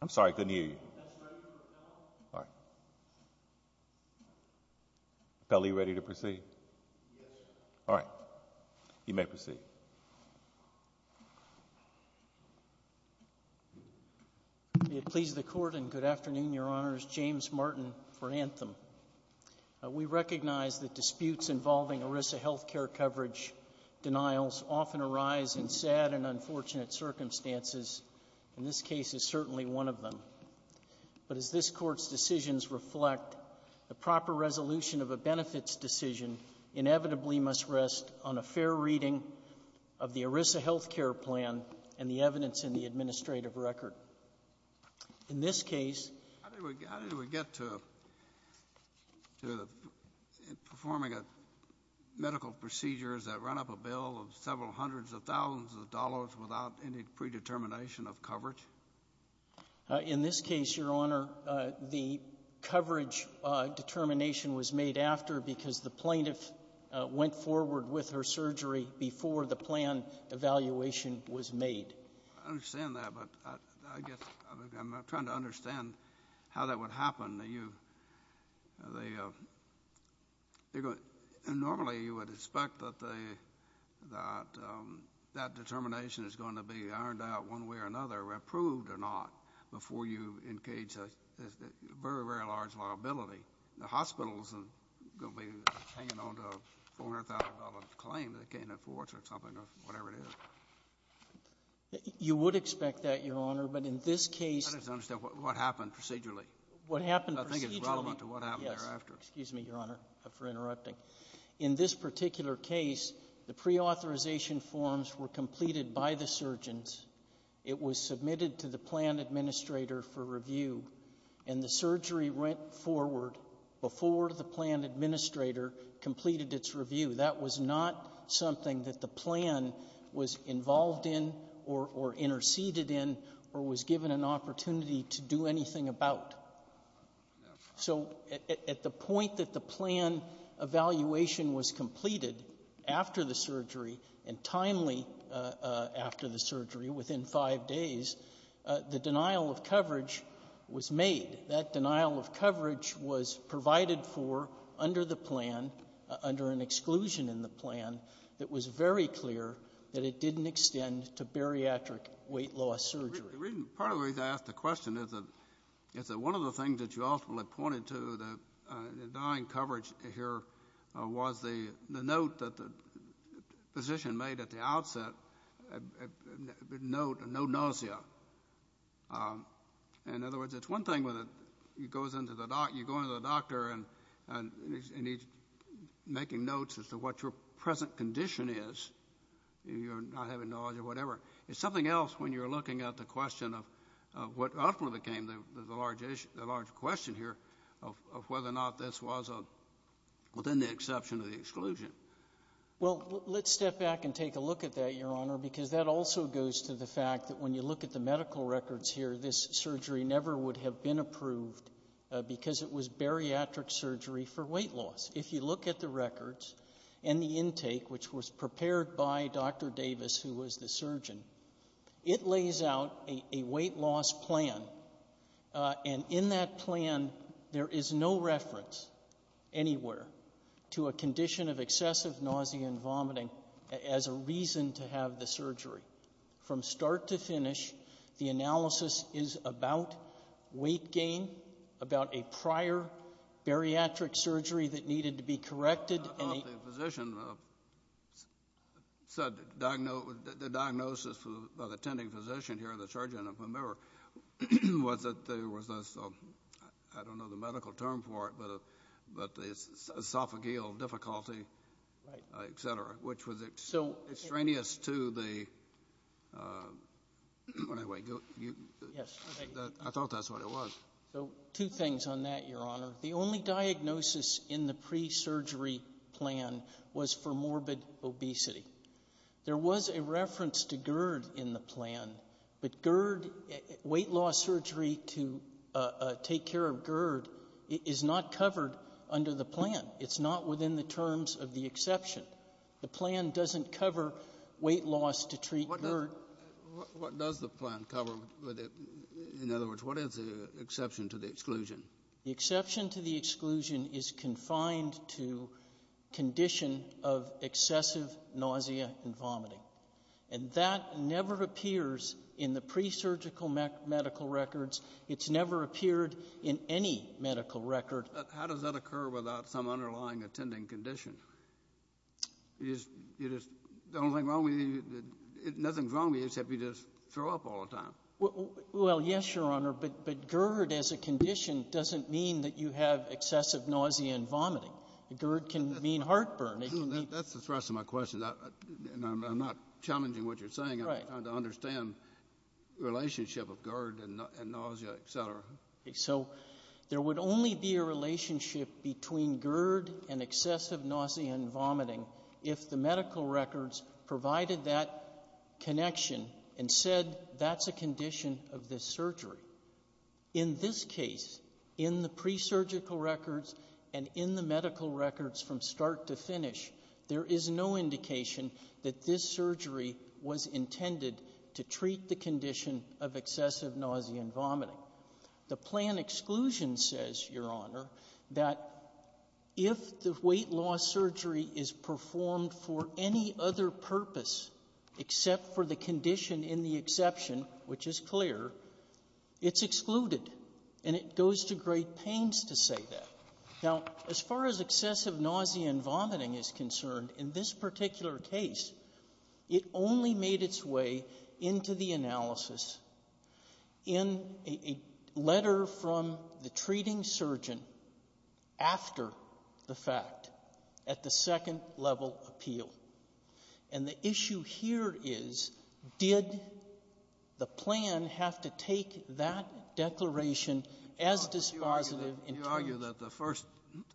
I'm sorry, I couldn't hear you. That's ready for appellant. All right. Appellant, are you ready to proceed? Yes, sir. All right. You may proceed. May it please the Court and good afternoon, Your Honors. I'm going to ask Judge James Martin for an anthem. We recognize that disputes involving ERISA health care coverage denials often arise in sad and unfortunate circumstances. In this case, it's certainly one of them. But as this Court's decisions reflect, the proper resolution of a benefits decision inevitably must rest on a fair reading of the ERISA health care plan and the evidence in the administrative record. But in this case — How did we get to performing medical procedures that run up a bill of several hundreds of thousands of dollars without any predetermination of coverage? In this case, Your Honor, the coverage determination was made after because the plaintiff went forward with her surgery before the plan evaluation was made. I understand that, but I guess I'm not trying to understand how that would happen. Normally, you would expect that that determination is going to be ironed out one way or another, approved or not, before you engage a very, very large liability. The hospitals are going to be hanging on to a $400,000 claim they can't afford or something or whatever it is. You would expect that, Your Honor. But in this case — I just don't understand. What happened procedurally? What happened procedurally — I think it's relevant to what happened thereafter. Yes. Excuse me, Your Honor, for interrupting. In this particular case, the preauthorization forms were completed by the surgeons. It was submitted to the plan administrator for review. And the surgery went forward before the plan administrator completed its review. That was not something that the plan was involved in or interceded in or was given an opportunity to do anything about. So at the point that the plan evaluation was completed after the surgery and timely after the surgery, within five days, the denial of coverage was made. That denial of coverage was provided for under the plan, under an exclusion in the plan, that was very clear that it didn't extend to bariatric weight loss surgery. Part of the reason I ask the question is that one of the things that you ultimately pointed to, the denying coverage here, was the note that the physician made at the outset, a note of no nausea. In other words, it's one thing when you go into the doctor and he's making notes as to what your present condition is, you're not having nausea or whatever. It's something else when you're looking at the question of what ultimately became the large question here of whether or not this was within the exception of the exclusion. Well, let's step back and take a look at that, Your Honor, because that also goes to the fact that when you look at the medical records here, this surgery never would have been approved because it was bariatric surgery for weight loss. If you look at the records and the intake, which was prepared by Dr. Davis, who was the surgeon, it lays out a weight loss plan, and in that plan there is no reference anywhere to a condition of excessive nausea and vomiting as a reason to have the surgery. From start to finish, the analysis is about weight gain, about a prior bariatric surgery that needed to be corrected. The diagnosis by the attending physician here, the surgeon, was that there was this, I don't know the medical term for it, but the esophageal difficulty, et cetera, which was extraneous to the – I thought that's what it was. So two things on that, Your Honor. The only diagnosis in the pre-surgery plan was for morbid obesity. There was a reference to GERD in the plan, but GERD, weight loss surgery to take care of GERD, is not covered under the plan. It's not within the terms of the exception. The plan doesn't cover weight loss to treat GERD. What does the plan cover? In other words, what is the exception to the exclusion? The exception to the exclusion is confined to condition of excessive nausea and vomiting, and that never appears in the pre-surgical medical records. It's never appeared in any medical record. But how does that occur without some underlying attending condition? You just – the only thing wrong with you – nothing's wrong with you except you just throw up all the time. Well, yes, Your Honor, but GERD as a condition doesn't mean that you have excessive nausea and vomiting. GERD can mean heartburn. That's the thrust of my question, and I'm not challenging what you're saying. I'm trying to understand the relationship of GERD and nausea, et cetera. So there would only be a relationship between GERD and excessive nausea and vomiting if the medical records provided that connection and said that's a condition of this surgery. In this case, in the pre-surgical records and in the medical records from start to finish, there is no indication that this surgery was intended to treat the condition of excessive nausea and vomiting. The plan exclusion says, Your Honor, that if the weight loss surgery is performed for any other purpose except for the condition in the exception, which is clear, it's excluded. And it goes to great pains to say that. Now, as far as excessive nausea and vomiting is concerned, in this particular case, it only made its way into the analysis in a letter from the treating surgeon after the fact at the second-level appeal. And the issue here is, did the plan have to take that declaration as dispositive You argue that the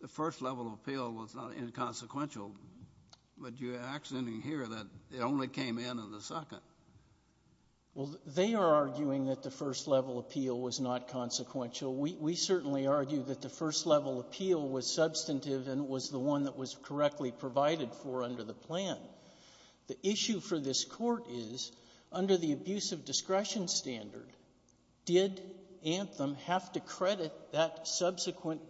first-level appeal was not inconsequential, but you actually hear that it only came in in the second. Well, they are arguing that the first-level appeal was not consequential. We certainly argue that the first-level appeal was substantive and was the one that was correctly provided for under the plan. The issue for this Court is, under the abuse of discretion standard, did Anthem have to credit that subsequent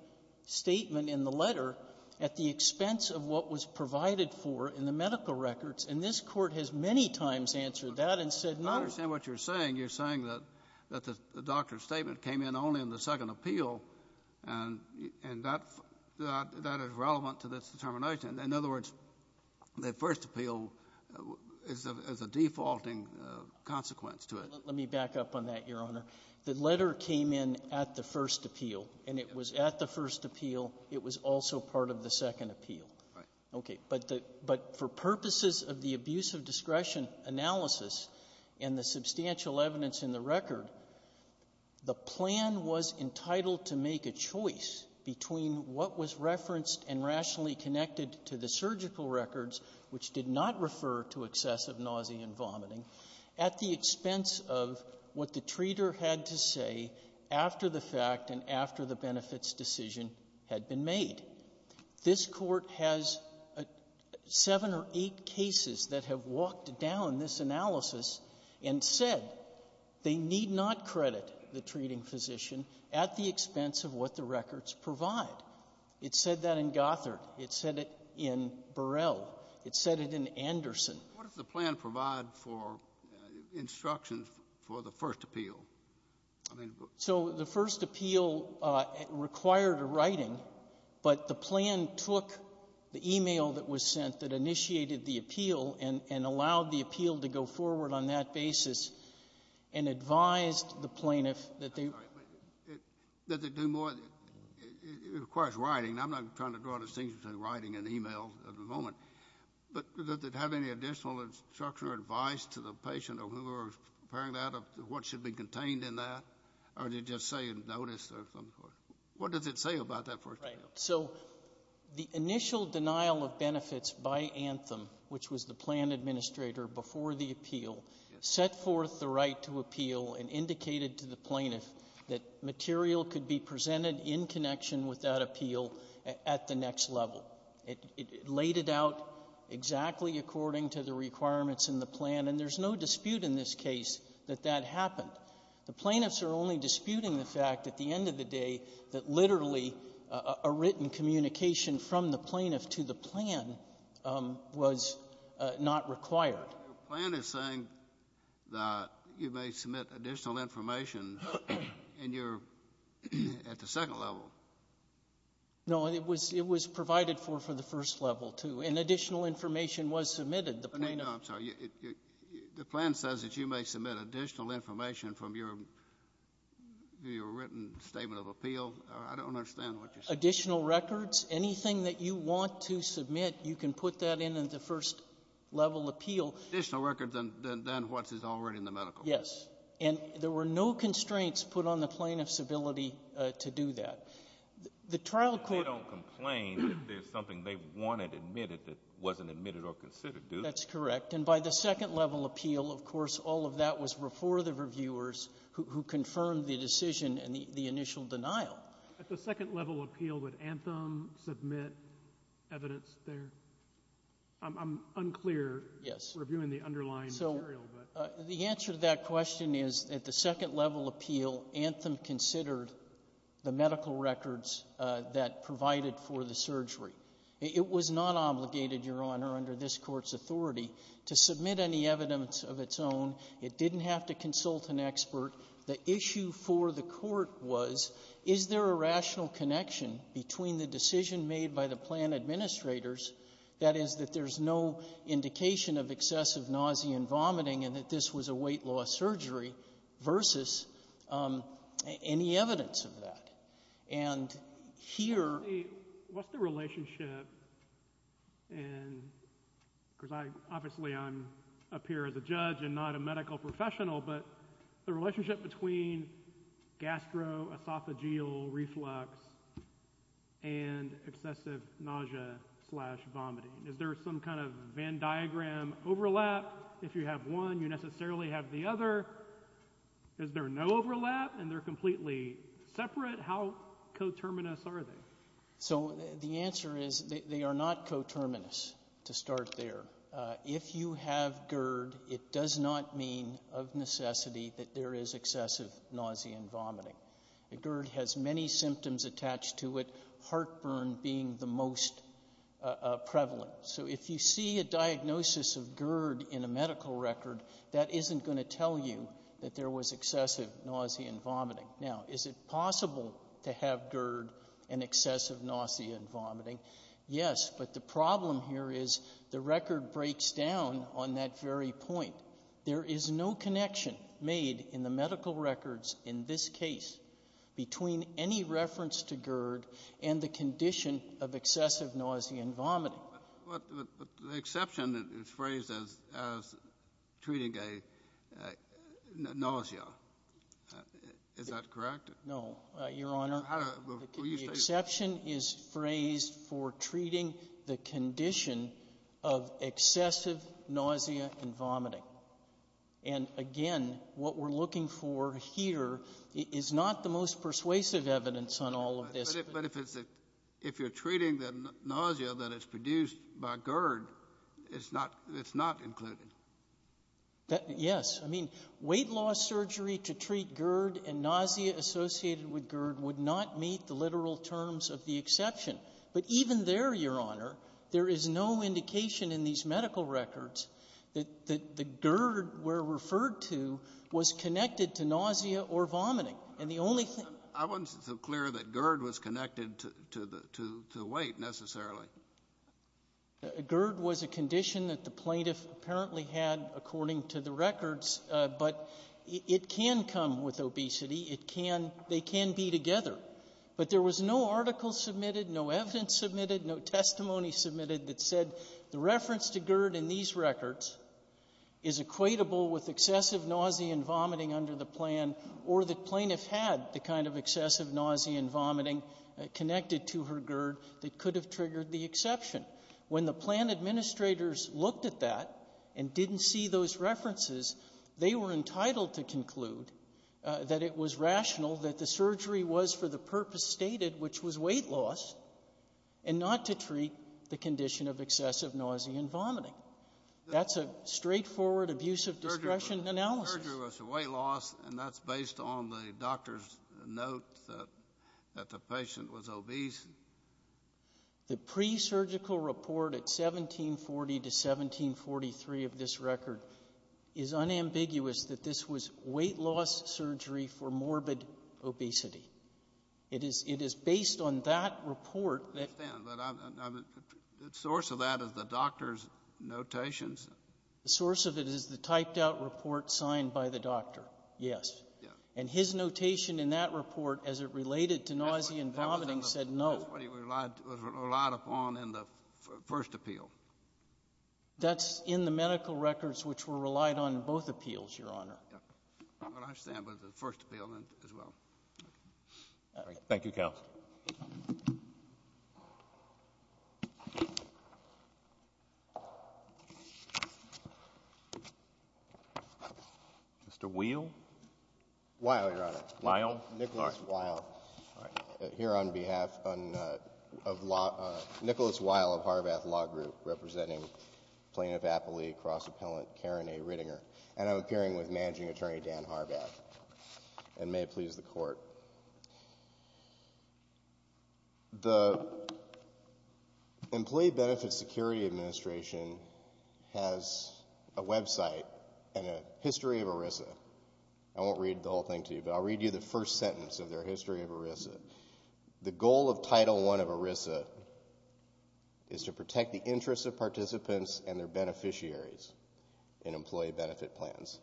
statement in the letter at the expense of what was provided for in the medical records? And this Court has many times answered that and said no. I understand what you're saying. You're saying that the doctor's statement came in only in the second appeal, and that is relevant to this determination. In other words, the first appeal is a defaulting consequence to it. Let me back up on that, Your Honor. The letter came in at the first appeal, and it was at the first appeal. It was also part of the second appeal. Right. Okay. But the — but for purposes of the abuse of discretion analysis and the substantial evidence in the record, the plan was entitled to make a choice between what was referenced and rationally connected to the surgical records, which did not refer to excessive nausea and vomiting, at the expense of what the treater had to say after the fact and after the benefits decision had been made. This Court has seven or eight cases that have walked down this analysis and said they need not credit the treating physician at the expense of what the records provide. It said that in Gothard. It said it in Burrell. It said it in Anderson. What does the plan provide for instructions for the first appeal? So the first appeal required a writing, but the plan took the e-mail that was sent that initiated the appeal and allowed the appeal to go forward on that basis and advised the plaintiff that they — Does it do more — it requires writing. I'm not trying to draw a distinction between writing and e-mail at the moment. But does it have any additional instruction or advice to the patient or whoever was preparing that of what should be contained in that, or did it just say in notice or something? What does it say about that first appeal? Right. So the initial denial of benefits by Anthem, which was the plan administrator before the appeal, set forth the right to appeal and indicated to the plaintiff that material could be presented in connection with that appeal at the next level. It laid it out exactly according to the requirements in the plan. And there's no dispute in this case that that happened. The plaintiffs are only disputing the fact at the end of the day that literally a written communication from the plaintiff to the plan was not required. Your plan is saying that you may submit additional information in your — at the second level. No. It was provided for for the first level, too. And additional information was submitted. The plaintiff — No, I'm sorry. The plan says that you may submit additional information from your written statement of appeal. I don't understand what you're saying. Additional records. Anything that you want to submit, you can put that in at the first level appeal. Additional records than what is already in the medical records. Yes. And there were no constraints put on the plaintiff's ability to do that. The trial court — They don't complain if there's something they wanted admitted that wasn't admitted or considered, do they? That's correct. And by the second level appeal, of course, all of that was before the reviewers who confirmed the decision and the initial denial. At the second level appeal, would Anthem submit evidence there? I'm unclear — Yes. — reviewing the underlying material, but — The answer to that question is, at the second level appeal, Anthem considered the medical records that provided for the surgery. It was not obligated, Your Honor, under this Court's authority to submit any evidence of its own. It didn't have to consult an expert. The issue for the Court was, is there a rational connection between the decision made by the plan administrators, that is, that there's no indication of excessive nausea and vomiting, and that this was a weight-loss surgery, versus any evidence of that? And here — What's the relationship in — because I — obviously I'm up here as a judge and not a medical professional, but the relationship between gastroesophageal reflux and excessive nausea-slash-vomiting. Is there some kind of Venn diagram overlap? If you have one, you necessarily have the other. Is there no overlap, and they're completely separate? How coterminous are they? So, the answer is, they are not coterminous, to start there. If you have GERD, it does not mean, of necessity, that there is excessive nausea and vomiting. GERD has many symptoms attached to it, heartburn being the most prevalent. So, if you see a diagnosis of GERD in a medical record, that isn't going to tell you that there was excessive nausea and vomiting. Now, is it possible to have GERD and excessive nausea and vomiting? Yes, but the problem here is, the record breaks down on that very point. There is no connection made in the medical records in this case between any reference to GERD and the condition of excessive nausea and vomiting. But the exception is phrased as treating a nausea. Is that correct? No. Your Honor, the exception is phrased for treating the condition of excessive nausea and vomiting. And, again, what we're looking for here is not the most persuasive evidence on all of this. But if it's a – if you're treating the nausea that is produced by GERD, it's not included. Yes. I mean, weight loss surgery to treat GERD and nausea associated with GERD would not meet the literal terms of the exception. But even there, Your Honor, there is no indication in these medical records that the GERD we're referred to was connected to nausea or vomiting. And the only thing – I wasn't so clear that GERD was connected to the weight, necessarily. GERD was a condition that the plaintiff apparently had, according to the records. But it can come with obesity. It can – they can be together. But there was no article submitted, no evidence submitted, no testimony submitted that said the reference to GERD in these records is equatable with excessive nausea and vomiting under the plan, or the plaintiff had the kind of excessive nausea and vomiting connected to her GERD that could have triggered the exception. When the plan administrators looked at that and didn't see those references, they were entitled to conclude that it was rational that the surgery was for the purpose stated, which was weight loss, and not to treat the condition of excessive nausea and vomiting. That's a straightforward abuse of discretion analysis. Surgery was for weight loss, and that's based on the doctor's note that the patient was obese. The pre-surgical report at 1740 to 1743 of this record is unambiguous that this was weight loss surgery for morbid obesity. It is based on that report. I understand. But the source of that is the doctor's notations. The source of it is the typed-out report signed by the doctor, yes. Yes. And his notation in that report, as it related to nausea and vomiting, said no. That's what he relied upon in the first appeal. That's in the medical records, which were relied on in both appeals, Your Honor. I understand, but the first appeal as well. Thank you, counsel. Mr. Weill? Weill, Your Honor. Weill? Nicholas Weill. All right. Here on behalf of Nicholas Weill of Harbath Law Group, representing Plaintiff Appley, Cross Appellant Karen A. Rittinger, and I'm appearing with Managing Attorney Dan Harbath, and may it please the Court. The Employee Benefit Security Administration has a website and a history of ERISA. I won't read the whole thing to you, but I'll read you the first sentence of their history of ERISA. The goal of Title I of ERISA is to protect the interests of participants and their beneficiaries in employee benefit plans.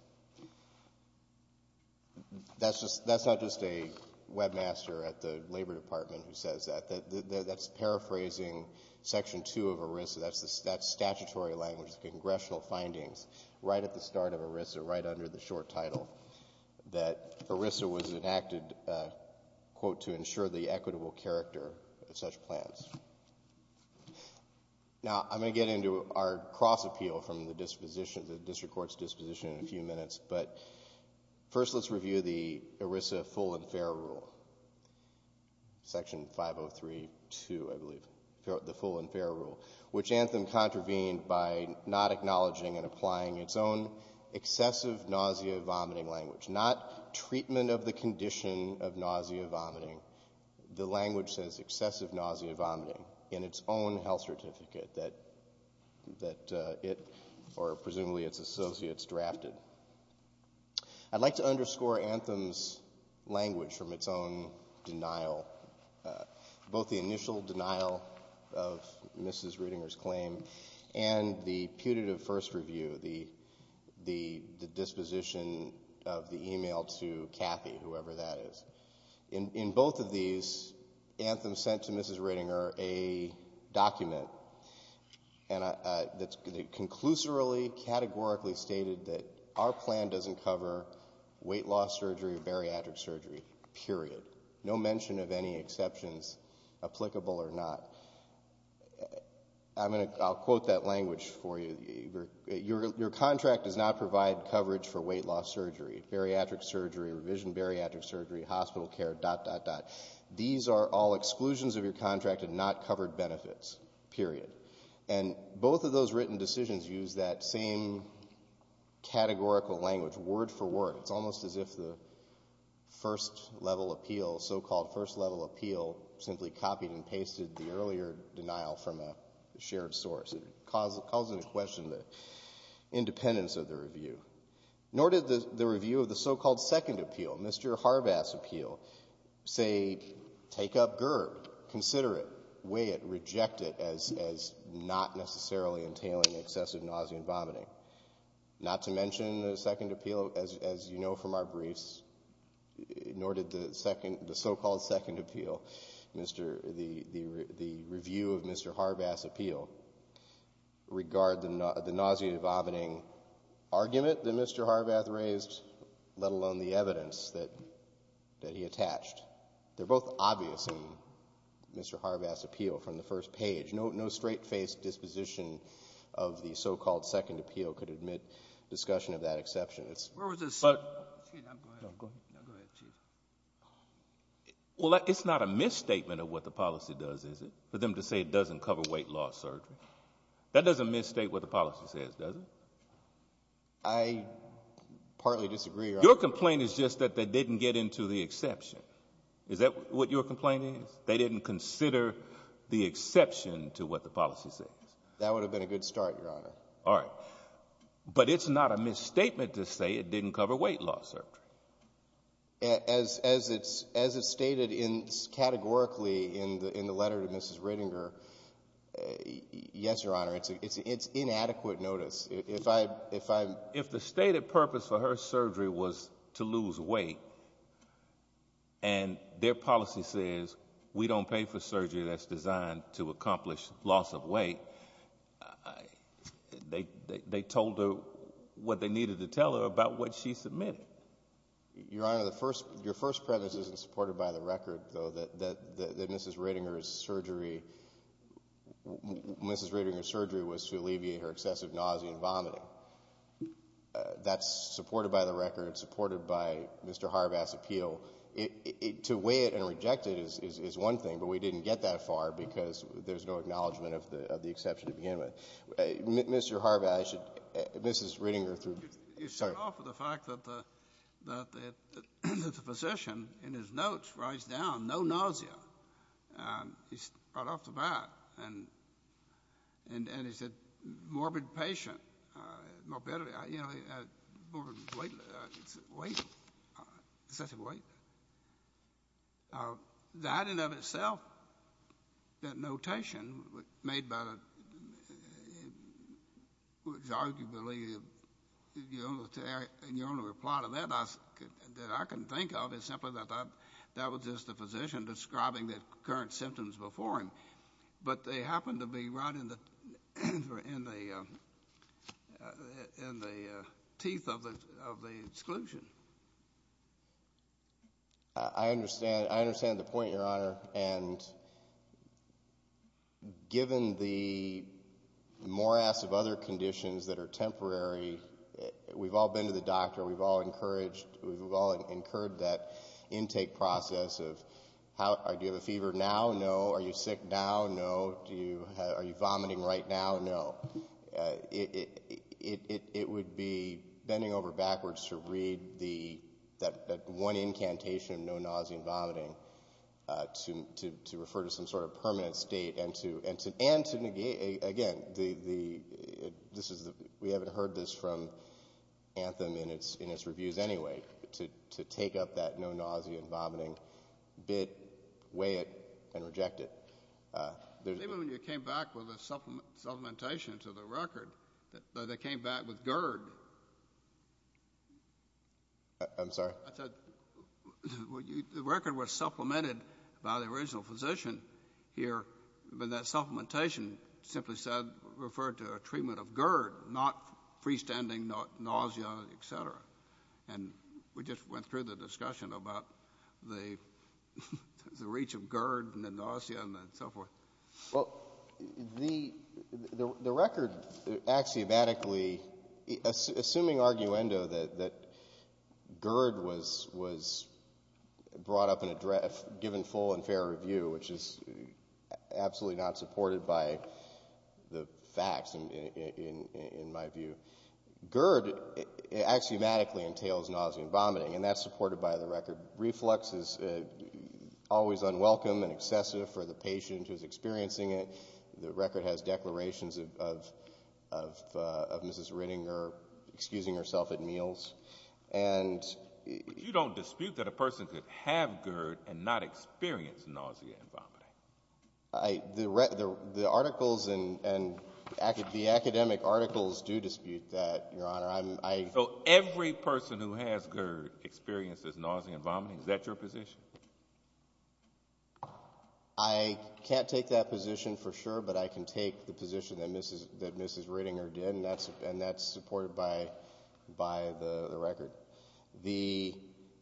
That's not just a webmaster at the Labor Department who says that. That's paraphrasing Section 2 of ERISA. That's statutory language, congressional findings, right at the start of ERISA, right under the short title that ERISA was enacted, quote, to ensure the equitable character of such plans. Now, I'm going to get into our cross appeal from the disposition, the district court's disposition in a few minutes, but first let's review the ERISA full and fair rule, Section 503.2, I believe, the full and fair rule, which Anthem contravened by not acknowledging and applying its own excessive nausea-vomiting language, not treatment of the condition of nausea-vomiting. The language says excessive nausea-vomiting in its own health certificate that it, or presumably its associates, drafted. I'd like to underscore Anthem's language from its own denial, both the initial denial of Mrs. Ridinger's claim and the putative first review, the disposition of the email to Kathy, whoever that is. In both of these, Anthem sent to Mrs. Ridinger a document that conclusively, categorically stated that our plan doesn't cover weight loss surgery or bariatric surgery, period. No mention of any exceptions applicable or not. I'll quote that language for you. Your contract does not provide coverage for weight loss surgery, bariatric surgery, revision bariatric surgery, hospital care, dot, dot, dot. These are all exclusions of your contract and not covered benefits, period. And both of those written decisions use that same categorical language, word for word. It's almost as if the first-level appeal, so-called first-level appeal, simply copied and pasted the earlier denial from a shared source. It calls into question the independence of the review. Nor did the review of the so-called second appeal, Mr. Harbass' appeal, say take up GERB, consider it, weigh it, reject it as not necessarily entailing excessive nausea and vomiting. Not to mention the second appeal, as you know from our briefs, nor did the so-called second appeal, Mr. the review of Mr. Harbass' appeal, regard the nausea and vomiting argument that Mr. Harbass raised, let alone the evidence that he attached. They're both obvious in Mr. Harbass' appeal from the first page. No straight-faced disposition of the so-called second appeal could admit discussion of that exception. It's — No, go ahead. Well, it's not a misstatement of what the policy does, is it, for them to say it doesn't cover weight loss surgery? That doesn't misstate what the policy says, does it? I partly disagree, Your Honor. Your complaint is just that they didn't get into the exception. Is that what your complaint is? They didn't consider the exception to what the policy says. That would have been a good start, Your Honor. All right. But it's not a misstatement to say it didn't cover weight loss surgery. As it's stated categorically in the letter to Mrs. Redinger, yes, Your Honor, it's inadequate notice. If I'm — If the stated purpose for her surgery was to lose weight and their policy says we don't pay for surgery that's designed to accomplish loss of weight, they told her what they needed to tell her about what she submitted. Your Honor, the first — your first preface isn't supported by the record, though, that Mrs. Redinger's surgery — Mrs. Redinger's surgery was to alleviate her excessive nausea and vomiting. That's supported by the record, supported by Mr. Harvath's appeal. To weigh it and reject it is one thing, but we didn't get that far because there's no acknowledgement of the exception to begin with. Mr. Harvath, I should — Mrs. Redinger, through — You start off with the fact that the physician, in his notes, writes down no nausea. He's right off the bat. And he said morbid patient, morbidity. You know, morbid weight. Excessive weight. That in and of itself, that notation made by the — which arguably — and your only reply to that that I can think of is simply that that was just the physician describing the current symptoms before him. But they happen to be right in the teeth of the exclusion. I understand. I understand the point, Your Honor. And given the morass of other conditions that are temporary, we've all been to the doctor. We've all encouraged — we've all incurred that intake process of do you have a fever now? No. Are you sick now? No. Are you vomiting right now? No. It would be bending over backwards to read that one incantation of no nausea and vomiting to refer to some sort of permanent state And to negate — again, we haven't heard this from Anthem in its reviews anyway, to take up that no nausea and vomiting bit, weigh it, and reject it. Even when you came back with a supplementation to the record, they came back with GERD. I'm sorry? I said the record was supplemented by the original physician here, but that supplementation simply referred to a treatment of GERD, not freestanding nausea, et cetera. And we just went through the discussion about the reach of GERD and the nausea and so forth. Well, the record axiomatically — assuming arguendo that GERD was brought up and given full and fair review, which is absolutely not supported by the facts in my view. GERD axiomatically entails nausea and vomiting, and that's supported by the record. Reflex is always unwelcome and excessive for the patient who's experiencing it. The record has declarations of Mrs. Rittinger excusing herself at meals. But you don't dispute that a person could have GERD and not experience nausea and vomiting? The articles and the academic articles do dispute that, Your Honor. So every person who has GERD experiences nausea and vomiting? Is that your position? I can't take that position for sure, but I can take the position that Mrs. Rittinger did, and that's supported by the record. The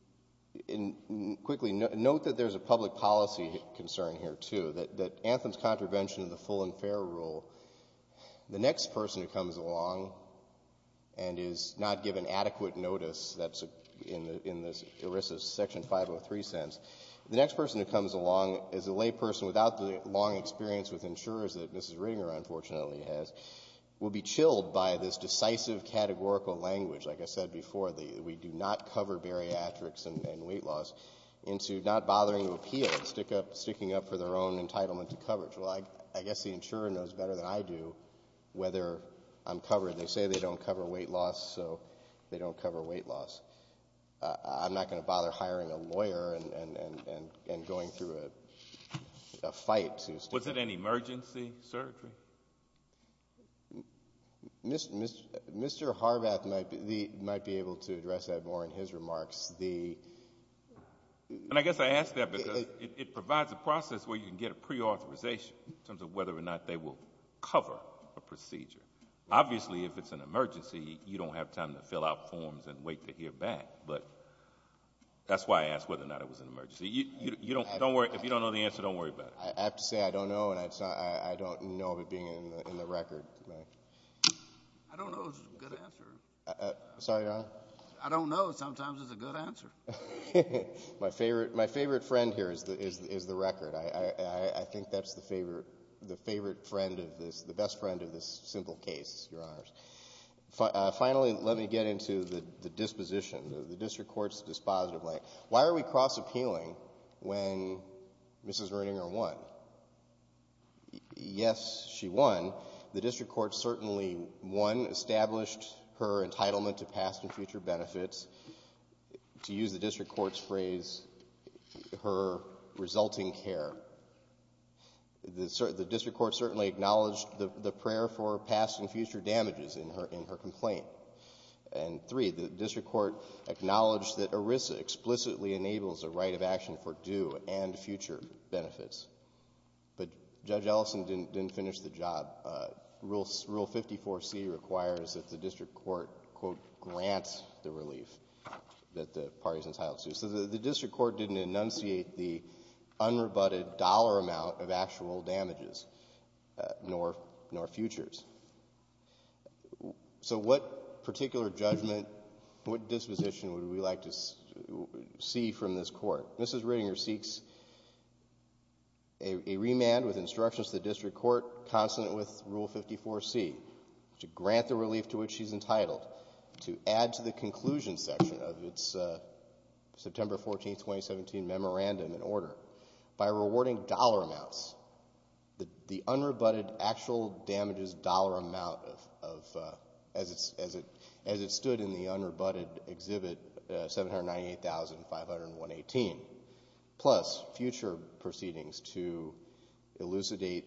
— and quickly, note that there's a public policy concern here, too, that Anthem's contravention of the full and fair rule, the next person who comes along and is not given adequate notice, that's in this ERISA section 503 sense, the next person who comes along is a layperson without the long experience with insurers that Mrs. Rittinger unfortunately has, will be chilled by this decisive categorical language. Like I said before, we do not cover bariatrics and weight loss into not bothering to appeal, sticking up for their own entitlement to coverage. Well, I guess the insurer knows better than I do whether I'm covered. They say they don't cover weight loss, so they don't cover weight loss. I'm not going to bother hiring a lawyer and going through a fight to — Was it an emergency surgery? Mr. Harbath might be able to address that more in his remarks. And I guess I ask that because it provides a process where you can get a preauthorization in terms of whether or not they will cover a procedure. Obviously, if it's an emergency, you don't have time to fill out forms and wait to hear back, but that's why I asked whether or not it was an emergency. If you don't know the answer, don't worry about it. I have to say I don't know, and I don't know of it being in the record. I don't know is a good answer. Sorry, Your Honor? I don't know. Sometimes it's a good answer. My favorite friend here is the record. I think that's the favorite friend of this, the best friend of this simple case, Your Honors. Finally, let me get into the disposition, the district court's disposition. Why are we cross-appealing when Mrs. Roeninger won? Yes, she won. The district court certainly won, established her entitlement to past and future benefits. To use the district court's phrase, her resulting care. The district court certainly acknowledged the prayer for past and future damages in her complaint. And three, the district court acknowledged that ERISA explicitly enables a right of action for due and future benefits. But Judge Ellison didn't finish the job. Rule 54C requires that the district court, quote, grant the relief that the parties and asylums do. So the district court didn't enunciate the unrebutted dollar amount of actual damages, nor futures. So what particular judgment, what disposition would we like to see from this court? Mrs. Roeninger seeks a remand with instructions to the district court, consonant with Rule 54C, to grant the relief to which she's entitled, to add to the conclusion section of its September 14, 2017 memorandum in order. By rewarding dollar amounts, the unrebutted actual damages dollar amount of, as it stood in the unrebutted exhibit, $798,518, plus future proceedings to elucidate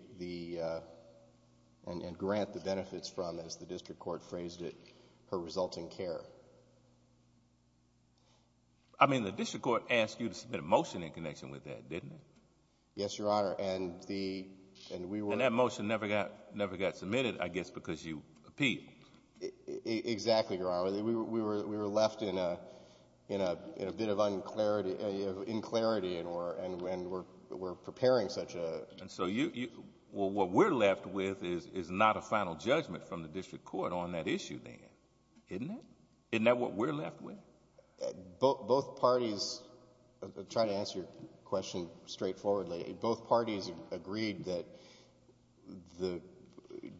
and grant the benefits from, as the district court phrased it, her resulting care. I mean, the district court asked you to submit a motion in connection with that, didn't it? Yes, Your Honor. And that motion never got submitted, I guess, because you appealed. Exactly, Your Honor. We were left in a bit of un-clarity, of in-clarity, and we're preparing such a... And so what we're left with is not a final judgment from the district court on that issue then, isn't it? Isn't that what we're left with? Both parties... I'm trying to answer your question straightforwardly. Both parties agreed that the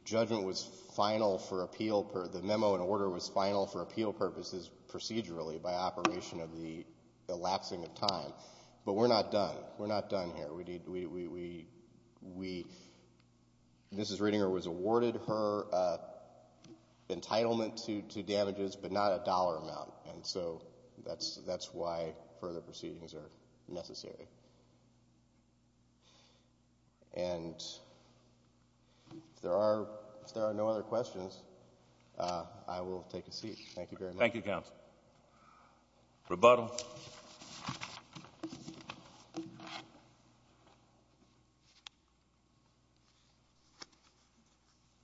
judgment was final for appeal... the memo in order was final for appeal purposes procedurally by operation of the lapsing of time. But we're not done. We're not done here. We... Mrs. Reidinger was awarded her entitlement to damages, but not a dollar amount. And so, that's why further proceedings are necessary. And, if there are no other questions, I will take a seat. Thank you very much. Thank you, Counsel. Rebuttal.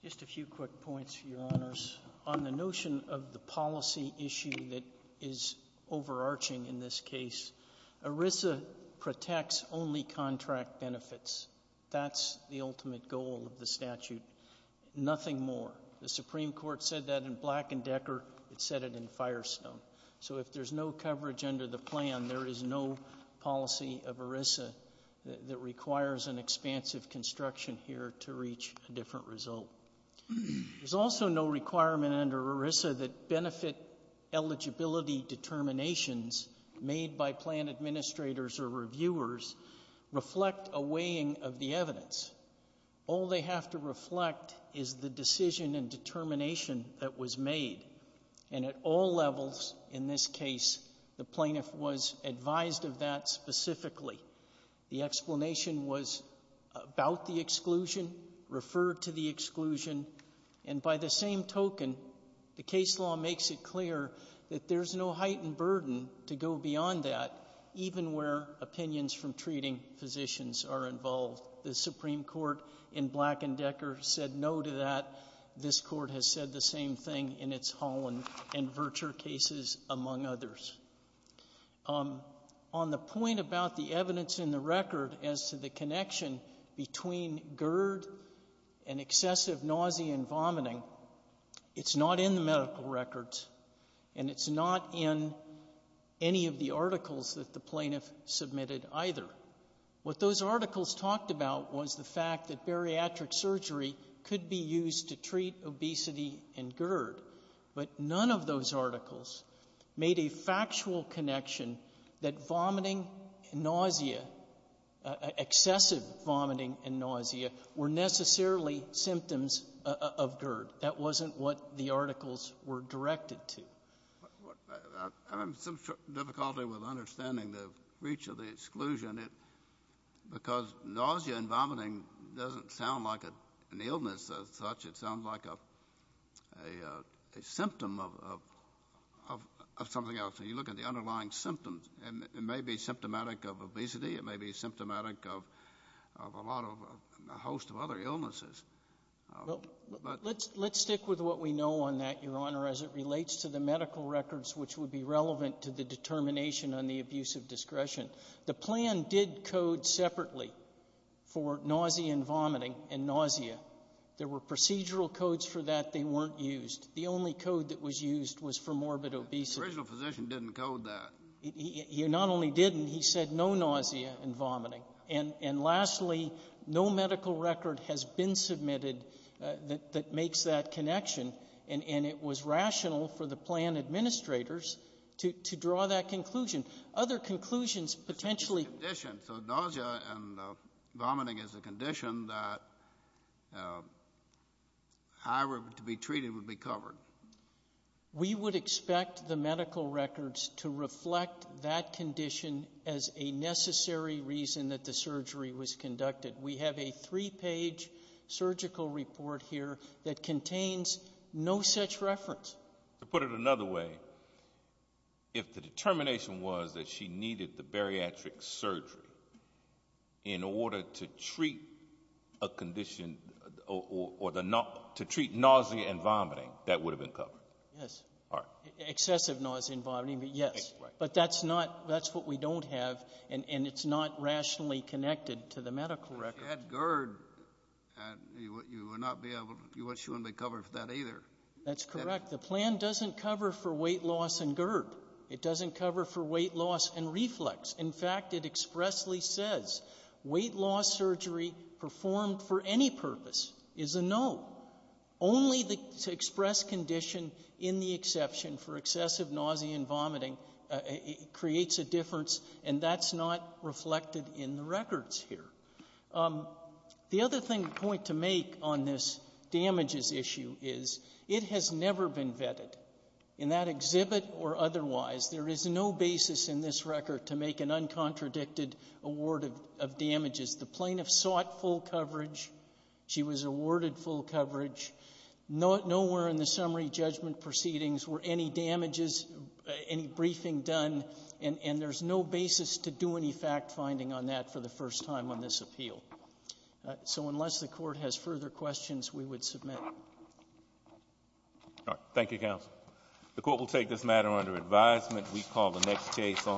Just a few quick points, Your Honors. On the notion of the policy issue that is overarching in this case, ERISA protects only contract benefits. That's the ultimate goal of the statute. Nothing more. The Supreme Court said that in Black and Decker. It said it in Firestone. So, if there's no coverage under the plan, there is no policy of ERISA that requires an expansive construction here to reach a different result. There's also no requirement under ERISA that benefit eligibility determinations made by plan administrators or reviewers reflect a weighing of the evidence. All they have to reflect is the decision and determination that was made. And, at all levels in this case, the plaintiff was advised of that specifically. The explanation was about the exclusion, referred to the exclusion. And, by the same token, the case law makes it clear that there's no heightened burden to go beyond that, even where opinions from treating physicians are involved. The Supreme Court in Black and Decker said no to that. This Court has said the same thing in its Holland and Vircher cases, among others. On the point about the evidence in the record as to the connection between GERD and excessive nausea and vomiting, it's not in the medical records. And it's not in any of the articles that the plaintiff submitted, either. What those articles talked about was the fact that bariatric surgery could be used to treat obesity and GERD. But none of those articles made a factual connection that vomiting and nausea, excessive vomiting and nausea, were necessarily symptoms of GERD. That wasn't what the articles were directed to. I'm having some difficulty with understanding the reach of the exclusion. Because nausea and vomiting doesn't sound like an illness as such. It sounds like a symptom of something else. When you look at the underlying symptoms, it may be symptomatic of obesity. It may be symptomatic of a host of other illnesses. Let's stick with what we know on that, Your Honor, as it relates to the medical records which would be relevant to the determination on the abuse of discretion. The plan did code separately for nausea and vomiting and nausea. There were procedural codes for that. They weren't used. The only code that was used was for morbid obesity. The original physician didn't code that. He not only didn't. He said no nausea and vomiting. And lastly, no medical record has been submitted that makes that connection. And it was rational for the plan administrators to draw that conclusion. Other conclusions potentially. So nausea and vomiting is a condition that however to be treated would be covered. We would expect the medical records to reflect that condition as a necessary reason that the surgery was conducted. We have a three-page surgical report here that contains no such reference. To put it another way, if the determination was that she needed the bariatric surgery in order to treat a condition or to treat nausea and vomiting, that would have been covered. Yes. Excessive nausea and vomiting, yes. But that's what we don't have, and it's not rationally connected to the medical record. If you had GERD, you wouldn't be covered for that either. That's correct. The plan doesn't cover for weight loss and GERD. It doesn't cover for weight loss and reflex. In fact, it expressly says weight loss surgery performed for any purpose is a no. Only the express condition in the exception for excessive nausea and vomiting creates a difference, and that's not reflected in the records here. The other point to make on this damages issue is it has never been vetted. In that exhibit or otherwise, there is no basis in this record to make an uncontradicted award of damages. The plaintiff sought full coverage. She was awarded full coverage. Nowhere in the summary judgment proceedings were any damages, any briefing done, and there's no basis to do any fact-finding on that for the first time on this appeal. So unless the court has further questions, we would submit. All right. Thank you, counsel. The court will take this matter under advisement. We call the next case on page 3.